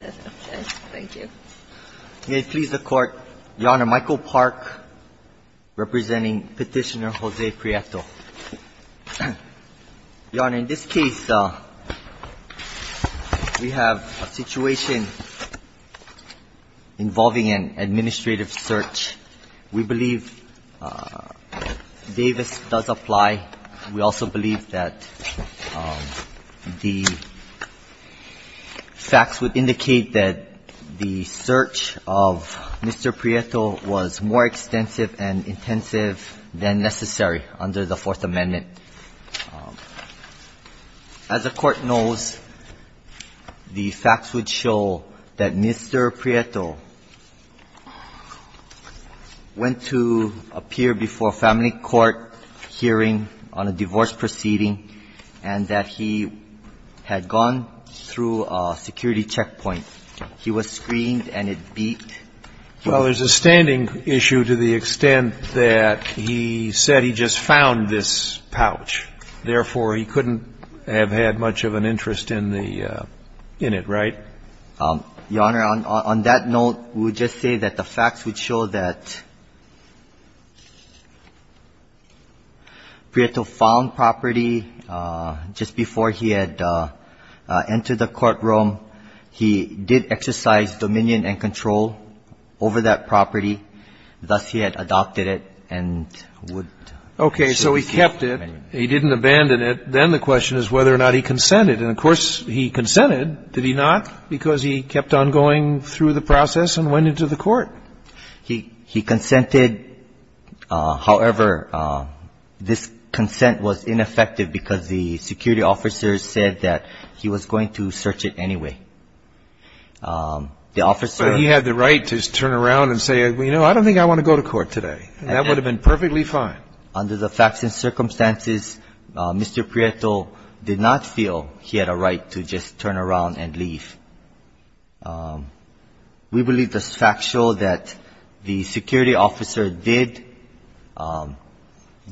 Thank you. May it please the court, Your Honor, Michael Park, representing petitioner Jose Prieto. Your Honor, in this case, we have a situation involving an administrative search. We believe Davis does apply. We also believe that the facts would indicate that the search of Mr. Prieto was more extensive and intensive than necessary under the Fourth Amendment. As the court knows, the facts would show that Mr. Prieto went to appear before a family court hearing on a divorce proceeding and that he had gone through a security checkpoint. He was screened and it beat. Well, there's a standing issue to the extent that he said he just found this pouch. Therefore, he couldn't have had much of an interest in the innit, right? Your Honor, on that note, we would just say that the facts would show that Prieto found property just before he had entered the courtroom. He did exercise dominion and control over that property. Thus, he had adopted it and would. Okay. So he kept it. He didn't abandon it. Then the question is whether or not he consented. And, of course, he consented. Did he not? Because he kept on going through the process and went into the court. He consented. However, this consent was ineffective because the security officers said that he was going to search it anyway. The officer ---- But he had the right to just turn around and say, you know, I don't think I want to go to court today. That would have been perfectly fine. Under the facts and circumstances, Mr. Prieto did not feel he had a right to just turn around and leave. We believe the facts show that the security officer did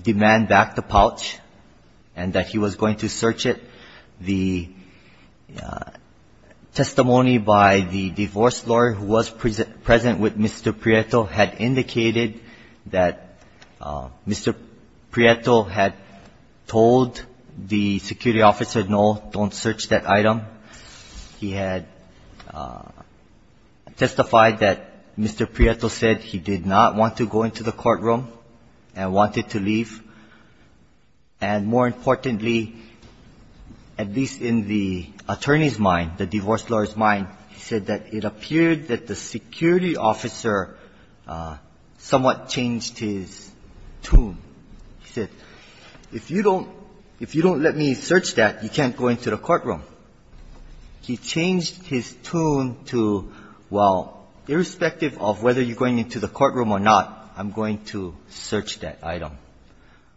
demand back the pouch and that he was going to search it. The testimony by the divorce lawyer who was present with Mr. Prieto had indicated that Mr. Prieto had told the security officer, no, don't search that item. He had testified that Mr. Prieto said he did not want to go into the courtroom and wanted to leave. And more importantly, at least in the attorney's mind, the divorce lawyer's mind, he said that it appeared that the security officer somewhat changed his tune. He said, if you don't let me search that, you can't go into the courtroom. He changed his tune to, well, irrespective of whether you're going into the courtroom or not, I'm going to search that item.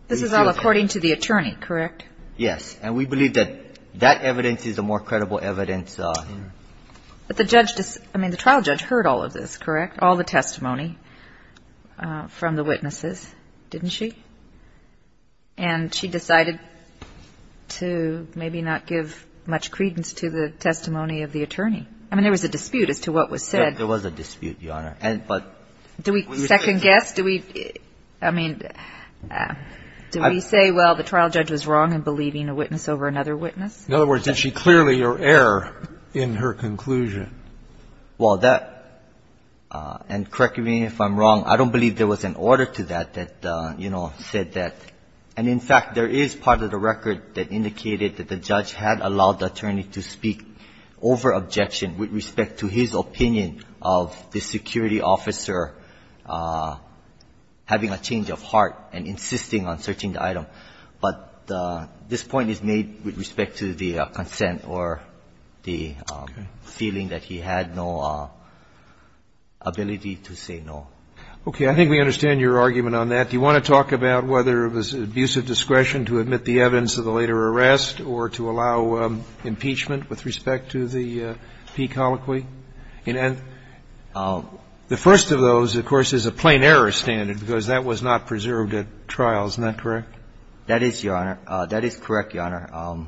This is all according to the attorney, correct? Yes. And we believe that that evidence is the more credible evidence. But the judge ---- I mean, the trial judge heard all of this, correct, all the testimony from the witnesses, didn't she? And she decided to maybe not give much credence to the testimony of the attorney. I mean, there was a dispute as to what was said. There was a dispute, Your Honor. And but ---- Do we second guess? Do we ---- I mean, do we say, well, the trial judge was wrong in believing a witness over another witness? In other words, did she clearly err in her conclusion? Well, that ---- and correct me if I'm wrong. I don't believe there was an order to that that, you know, said that. And in fact, there is part of the record that indicated that the judge had allowed the attorney to speak over objection with respect to his opinion of the security officer having a change of heart and insisting on searching the item. But this point is made with respect to the consent or the feeling that he had no ability to say no. Okay. I think we understand your argument on that. Do you want to talk about whether it was abusive discretion to admit the evidence of the later arrest or to allow impeachment with respect to the P. colloquy? And the first of those, of course, is a plain error standard because that was not preserved at trial. Isn't that correct? That is, Your Honor. That is correct, Your Honor.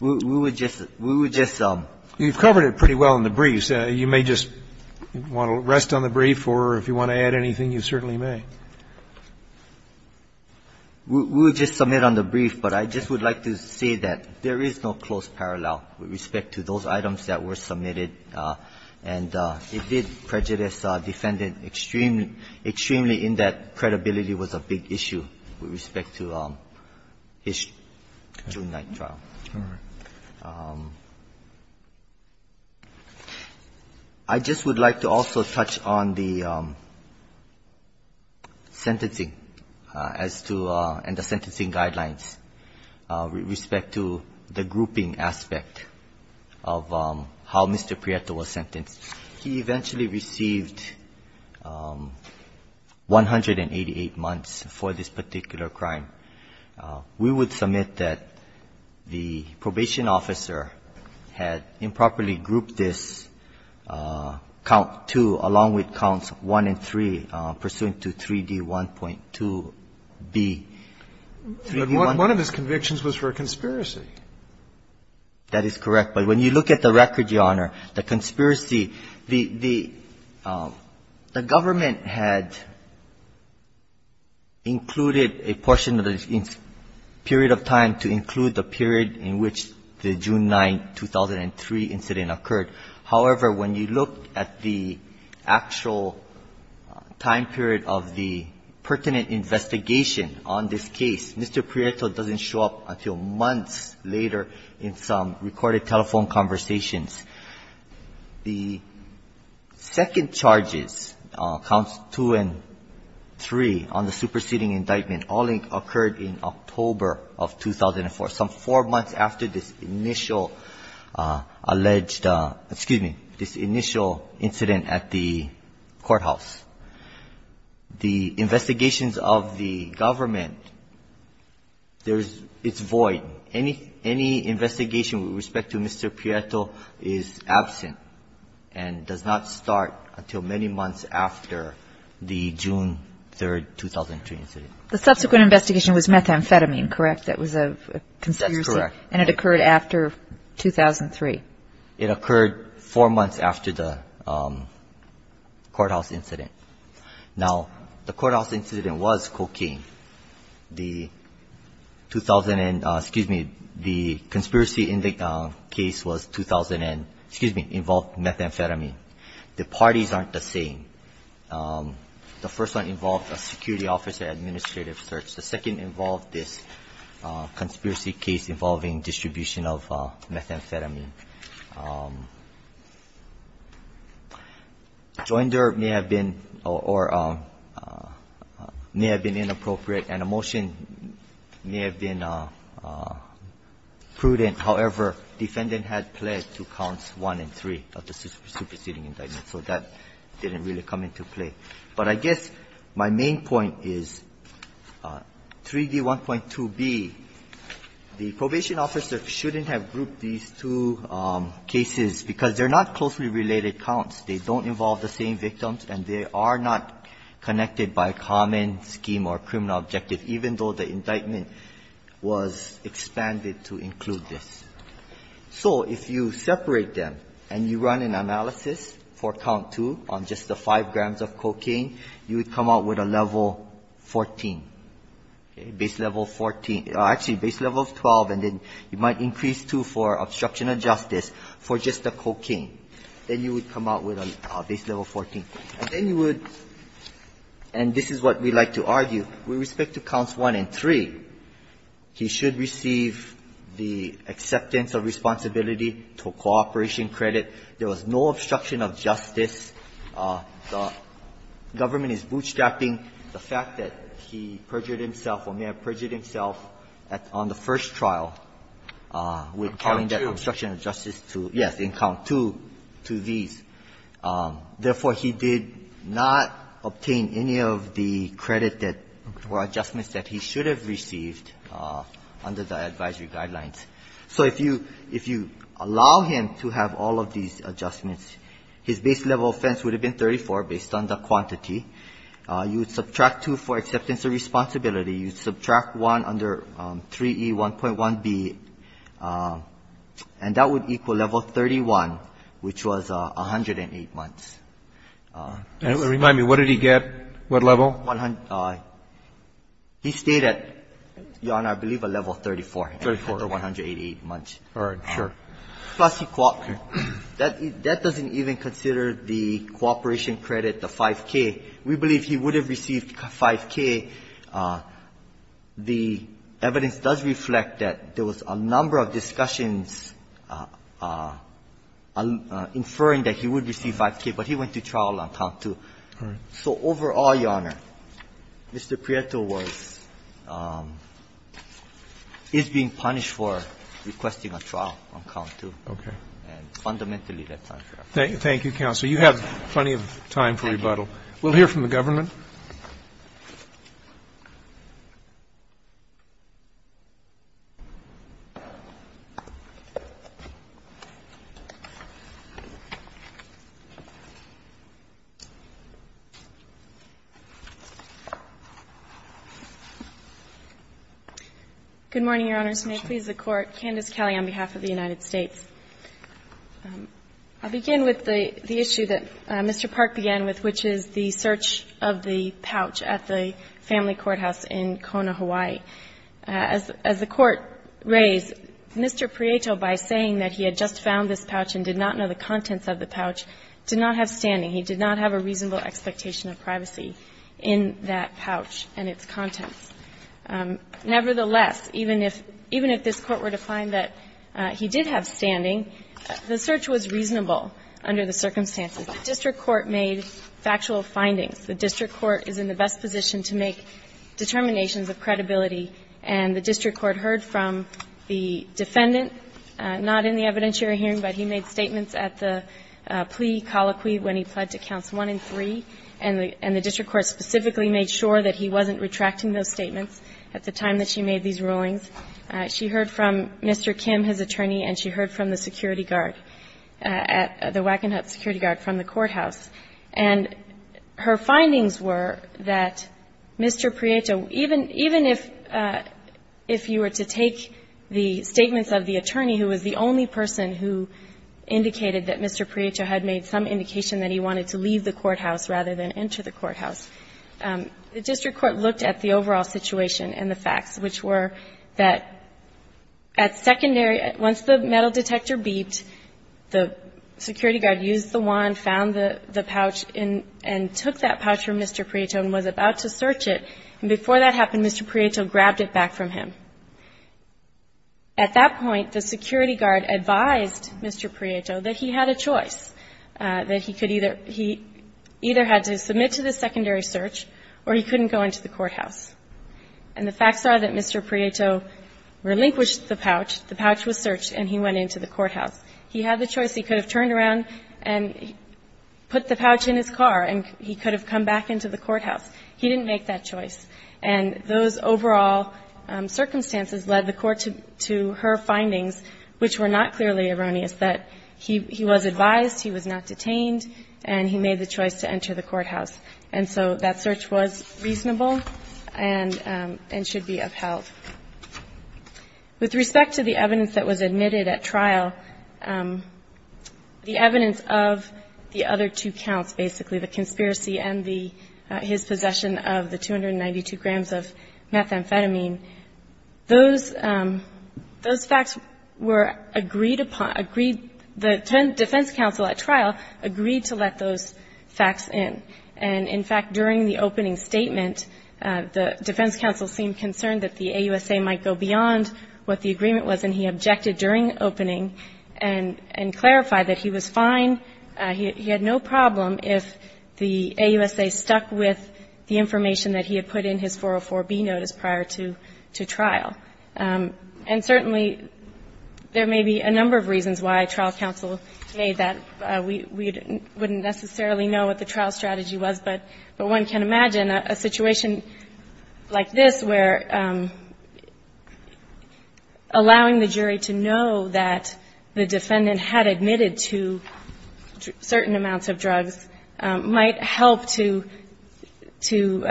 We would just ---- we would just ---- You've covered it pretty well in the briefs. You may just want to rest on the brief or if you want to add anything, you certainly may. We would just submit on the brief, but I just would like to say that there is no close parallel with respect to those items that were submitted. And it did prejudice defendant extremely. Extremely in that credibility was a big issue with respect to his June 9th trial. All right. I just would like to also touch on the sentencing as to the sentencing guidelines with respect to the grouping aspect of how Mr. Prieto was sentenced. He eventually received 188 months for this particular crime. We would submit that the probation officer had improperly grouped this count 2 along with counts 1 and 3 pursuant to 3D1.2B. But one of his convictions was for a conspiracy. That is correct. But when you look at the record, Your Honor, the conspiracy, the government had included a portion of the period of time to include the period in which the June 9, 2003 incident occurred. However, when you look at the actual time period of the pertinent investigation on this case, Mr. Prieto doesn't show up until months later in some recorded telephone conversations. The second charges, counts 2 and 3 on the superseding indictment, all occurred in October of 2004, some four months after this initial alleged, excuse me, this initial incident at the courthouse. The investigations of the government, there's its void. Any investigation with respect to Mr. Prieto is absent and does not start until many months after the June 3, 2003 incident. The subsequent investigation was methamphetamine, correct? That was a conspiracy? That's correct. And it occurred after 2003? It occurred four months after the courthouse incident. Now, the courthouse incident was cocaine. The 2000, excuse me, the conspiracy in the case was 2000 and, excuse me, involved methamphetamine. The parties aren't the same. The first one involved a security officer administrative search. The second involved this conspiracy case involving distribution of methamphetamine. Joinder may have been or may have been inappropriate and a motion may have been prudent. However, defendant had pled to counts 1 and 3 of the superseding indictment. So that didn't really come into play. But I guess my main point is 3d1.2b, the probation officer shouldn't have grouped these two cases because they're not closely related counts. They don't involve the same victims, and they are not connected by common scheme or criminal objective, even though the indictment was expanded to include this. So if you separate them and you run an analysis for count 2 on just the 5 grams of cocaine, you would come out with a level 14, base level 14. Actually, base level 12, and then you might increase 2 for obstruction of justice for just the cocaine. Then you would come out with a base level 14. And then you would, and this is what we like to argue, with respect to counts 1 and 3, he should receive the acceptance of responsibility to cooperation credit. There was no obstruction of justice. The government is bootstrapping the fact that he perjured himself or may have perjured himself on the first trial with counting that obstruction of justice to, yes, in count 2, 2b's. Therefore, he did not obtain any of the credit that were adjustments that he should have received under the advisory guidelines. So if you allow him to have all of these adjustments, his base level offense would have been 34 based on the quantity. You would subtract 2 for acceptance of responsibility. You subtract 1 under 3E1.1b, and that would equal level 31, which was 108 months. And it would remind me, what did he get? What level? He stayed at, Your Honor, I believe a level 34. 34. After 188 months. All right. Sure. Plus he cooperated. That doesn't even consider the cooperation credit, the 5K. We believe he would have received 5K. The evidence does reflect that there was a number of discussions inferring that he would receive 5K, but he went to trial on count 2. All right. So overall, Your Honor, Mr. Prieto was, is being punished for requesting a trial on count 2. Okay. And fundamentally that's unfair. Thank you, counsel. You have plenty of time for rebuttal. We'll hear from the government. Good morning, Your Honors. May it please the Court. Candice Kelley on behalf of the United States. I'll begin with the issue that Mr. Park began with, which is the search of the pouch at the family courthouse in Kona, Hawaii. As the Court raised, Mr. Prieto, by saying that he had just found this pouch and did not know the contents of the pouch, did not have standing. He did not have a reasonable expectation of privacy in that pouch and its contents. Nevertheless, even if, even if this Court were to find that he did have standing, the search was reasonable under the circumstances. The district court made factual findings. The district court is in the best position to make determinations of credibility, and the district court heard from the defendant, not in the evidentiary hearing, but he made statements at the plea colloquy when he pled to counts 1 and 3, and the time that she made these rulings. She heard from Mr. Kim, his attorney, and she heard from the security guard at the Wackenhut security guard from the courthouse. And her findings were that Mr. Prieto, even, even if, if you were to take the statements of the attorney who was the only person who indicated that Mr. Prieto had made some indication that he wanted to leave the courthouse rather than enter the courthouse, the district court looked at the overall situation and the facts, which were that at secondary, once the metal detector beeped, the security guard used the wand, found the pouch, and took that pouch from Mr. Prieto and was about to search it. And before that happened, Mr. Prieto grabbed it back from him. At that point, the security guard advised Mr. Prieto that he had a choice, that he could either, he either had to submit to the secondary search or he couldn't go into the courthouse. And the facts are that Mr. Prieto relinquished the pouch. The pouch was searched and he went into the courthouse. He had the choice. He could have turned around and put the pouch in his car and he could have come back into the courthouse. He didn't make that choice. And those overall circumstances led the Court to, to her findings, which were not clearly erroneous, that he was advised, he was not detained, and he made the choice to enter the courthouse. And so that search was reasonable and should be upheld. With respect to the evidence that was admitted at trial, the evidence of the other two counts, basically, the conspiracy and his possession of the 292 grams of methamphetamine, those, those facts were agreed upon, agreed, the defense counsel at trial agreed to let those facts in. And, in fact, during the opening statement, the defense counsel seemed concerned that the AUSA might go beyond what the agreement was, and he objected during opening and clarified that he was fine, he had no problem if the AUSA stuck with the information that he had put in his 404B notice prior to, to trial. And certainly, there may be a number of reasons why trial counsel made that. We wouldn't necessarily know what the trial strategy was, but one can imagine a situation like this where allowing the jury to know that the defendant had admitted to certain amounts of drugs might help to, to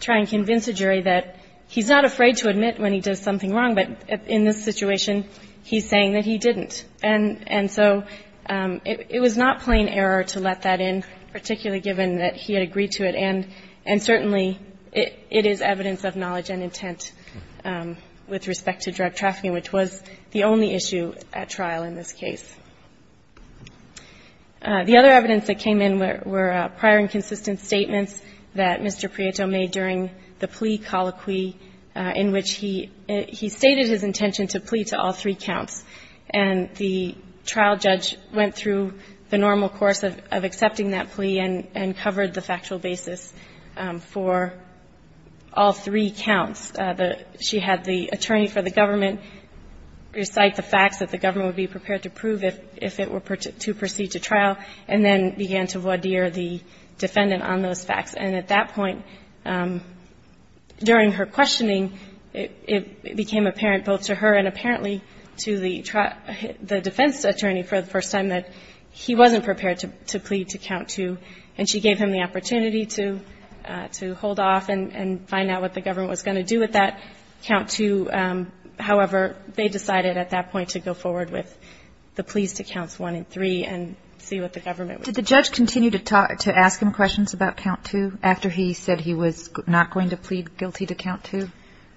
try and convince a jury that he's not afraid to admit when he does something wrong, but in this situation, he's saying that he didn't. And so it was not plain error to let that in, particularly given that he had agreed to it, and certainly it is evidence of knowledge and intent with respect to drug trafficking, which was the only issue at trial in this case. The other evidence that came in were prior and consistent statements that Mr. Prieto made during the plea colloquy in which he, he stated his intention to plea to all three counts, and the trial judge went through the normal course of, of accepting that plea and, and covered the factual basis for all three counts. She had the attorney for the government recite the facts that the government would be prepared to prove if, if it were to proceed to trial, and then began to voir dire the defendant on those facts. And at that point, during her questioning, it became apparent both to her and apparently to the defense attorney for the first time that he wasn't prepared to plea to count two, and she gave him the opportunity to, to hold off and find out what the government was going to do with that count two. However, they decided at that point to go forward with the pleas to counts one and three and see what the government would do. Kagan. Did the judge continue to talk, to ask him questions about count two after he said he was not going to plead guilty to count two?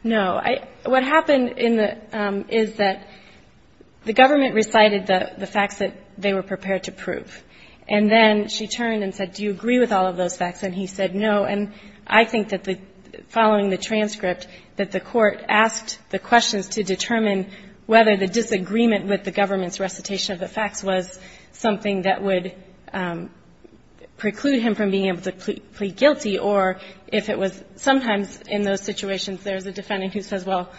No. I, what happened in the, is that the government recited the, the facts that they were prepared to prove. And then she turned and said, do you agree with all of those facts? And he said no. And I think that the, following the transcript, that the court asked the questions to determine whether the disagreement with the government's recitation of the facts was something that would preclude him from being able to plead guilty, or if it was sometimes in those situations, there's a defendant who says, well,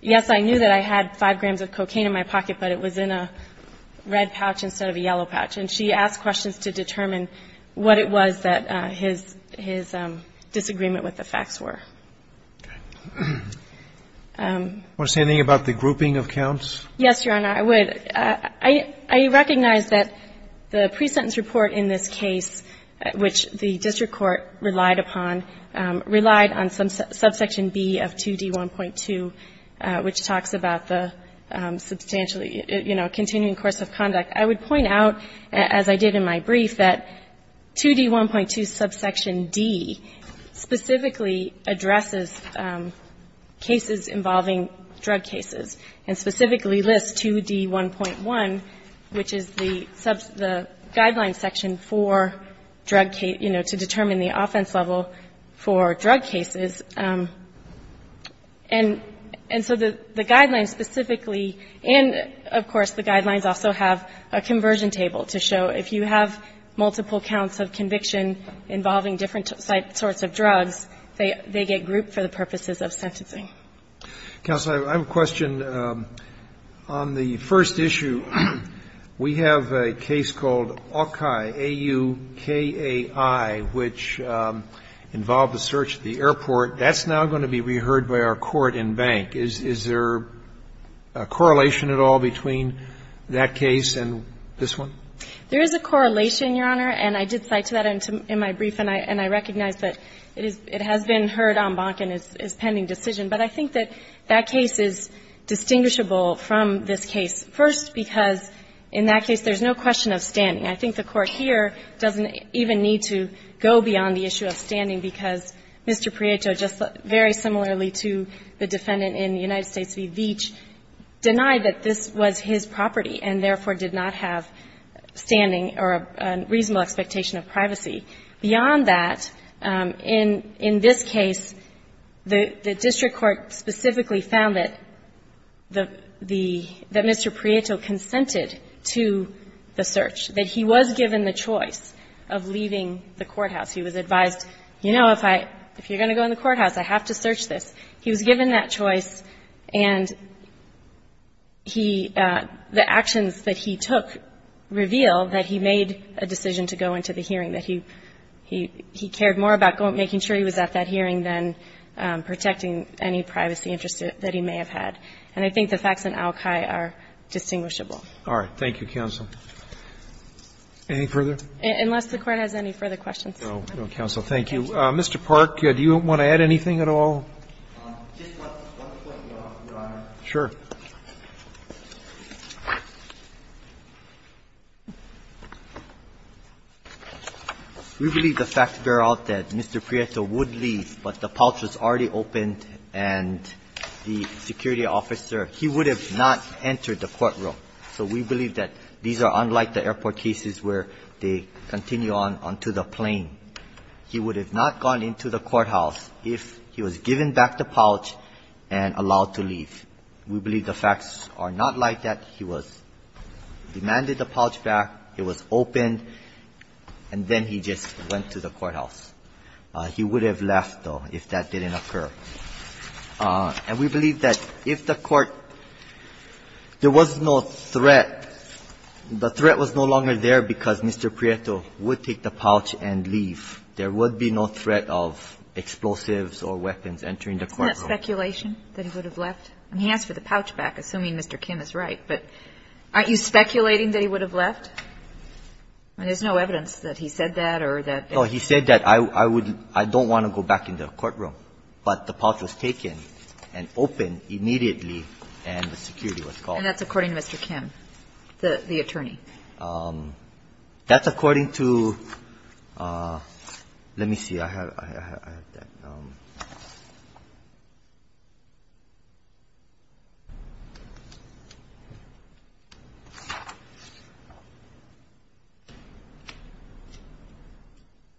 yes, I knew that I had 5 grams of cocaine in my pocket, but it was in a red pouch instead of a yellow pouch, and she asked questions to determine what it was that his, his disagreement with the facts were. Do you want to say anything about the grouping of counts? Yes, Your Honor, I would. I recognize that the pre-sentence report in this case, which the district court relied upon, relied on some subsection B of 2D1.2, which talks about the substantially, you know, continuing course of conduct. But I would point out, as I did in my brief, that 2D1.2 subsection D specifically addresses cases involving drug cases, and specifically lists 2D1.1, which is the guideline section for drug case, you know, to determine the offense level for drug cases. And so the guidelines specifically and, of course, the guidelines also have a conversion table to show if you have multiple counts of conviction involving different sorts of drugs, they get grouped for the purposes of sentencing. Counsel, I have a question. On the first issue, we have a case called Aukai, A-U-K-A-I, which involved a search at the airport. That's now going to be reheard by our court in Bank. Is there a correlation at all between that case and this one? There is a correlation, Your Honor, and I did cite to that in my brief, and I recognize that it has been heard on Bank and is pending decision. But I think that that case is distinguishable from this case, first because in that case there's no question of standing. I think the Court here doesn't even need to go beyond the issue of standing because Mr. Prieto, just very similarly to the defendant in the United States v. Veech, denied that this was his property and therefore did not have standing or a reasonable expectation of privacy. Beyond that, in this case, the district court specifically found that the Mr. Prieto consented to the search, that he was given the choice of leaving the courthouse. He was advised, you know, if you're going to go in the courthouse, I have to search this. He was given that choice, and he – the actions that he took reveal that he made a decision to go into the hearing, that he cared more about making sure he was at that hearing than protecting any privacy interests that he may have had. And I think the facts in ALCAI are distinguishable. Roberts. Thank you, counsel. Any further? Unless the Court has any further questions. No, no, counsel. Thank you. Mr. Park, do you want to add anything at all? Sure. We believe the facts bear out that Mr. Prieto would leave, but the pouch was already opened, and the security officer – he would have not entered the courtroom. So we believe that these are unlike the airport cases where they continue on to the plane. He would have not gone into the courthouse if he was given back the pouch and allowed to leave. We believe the facts are not like that. He was – demanded the pouch back, it was opened, and then he just went to the courthouse. He would have left, though, if that didn't occur. And we believe that if the Court – there was no threat, the threat was no longer there because Mr. Prieto would take the pouch and leave. There would be no threat of explosives or weapons entering the courtroom. Isn't that speculation, that he would have left? I mean, he asked for the pouch back, assuming Mr. Kim is right, but aren't you speculating that he would have left? No, he said that I would – I don't want to go back in the courtroom, but the pouch was taken and opened immediately, and the security was called. And that's according to Mr. Kim, the attorney? That's according to – let me see. I have that.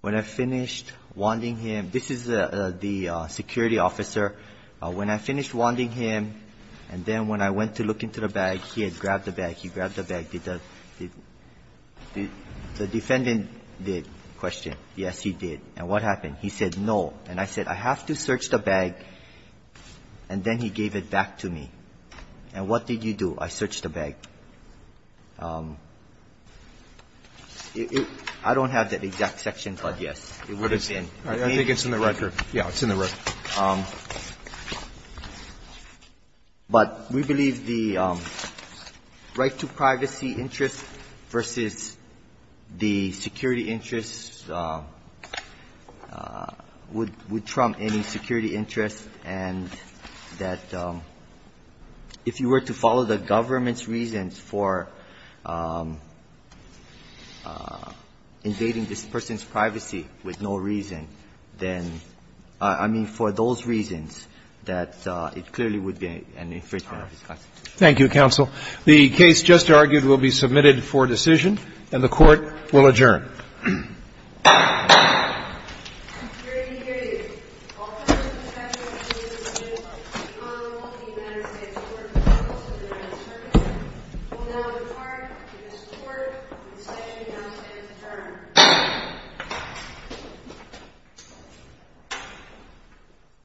When I finished wanting him – this is the security officer. When I finished wanting him, and then when I went to look into the bag, he had grabbed the bag. He grabbed the bag. Did the – the defendant did, question. Yes, he did. And what happened? He said, no. And I said, I have to search the bag, and then he gave it back to me. And what did you do? I searched the bag. I don't have that exact section, but yes, it would have been. I think it's in the record. Yeah, it's in the record. Thank you, counsel. The case just argued will be submitted for decision, and the Court will adjourn. Hear ye, hear ye. All parties to the statute of limitations of the Honorable United States Court of Appeals of the United States of America will now depart in the support of the State of the United States of America.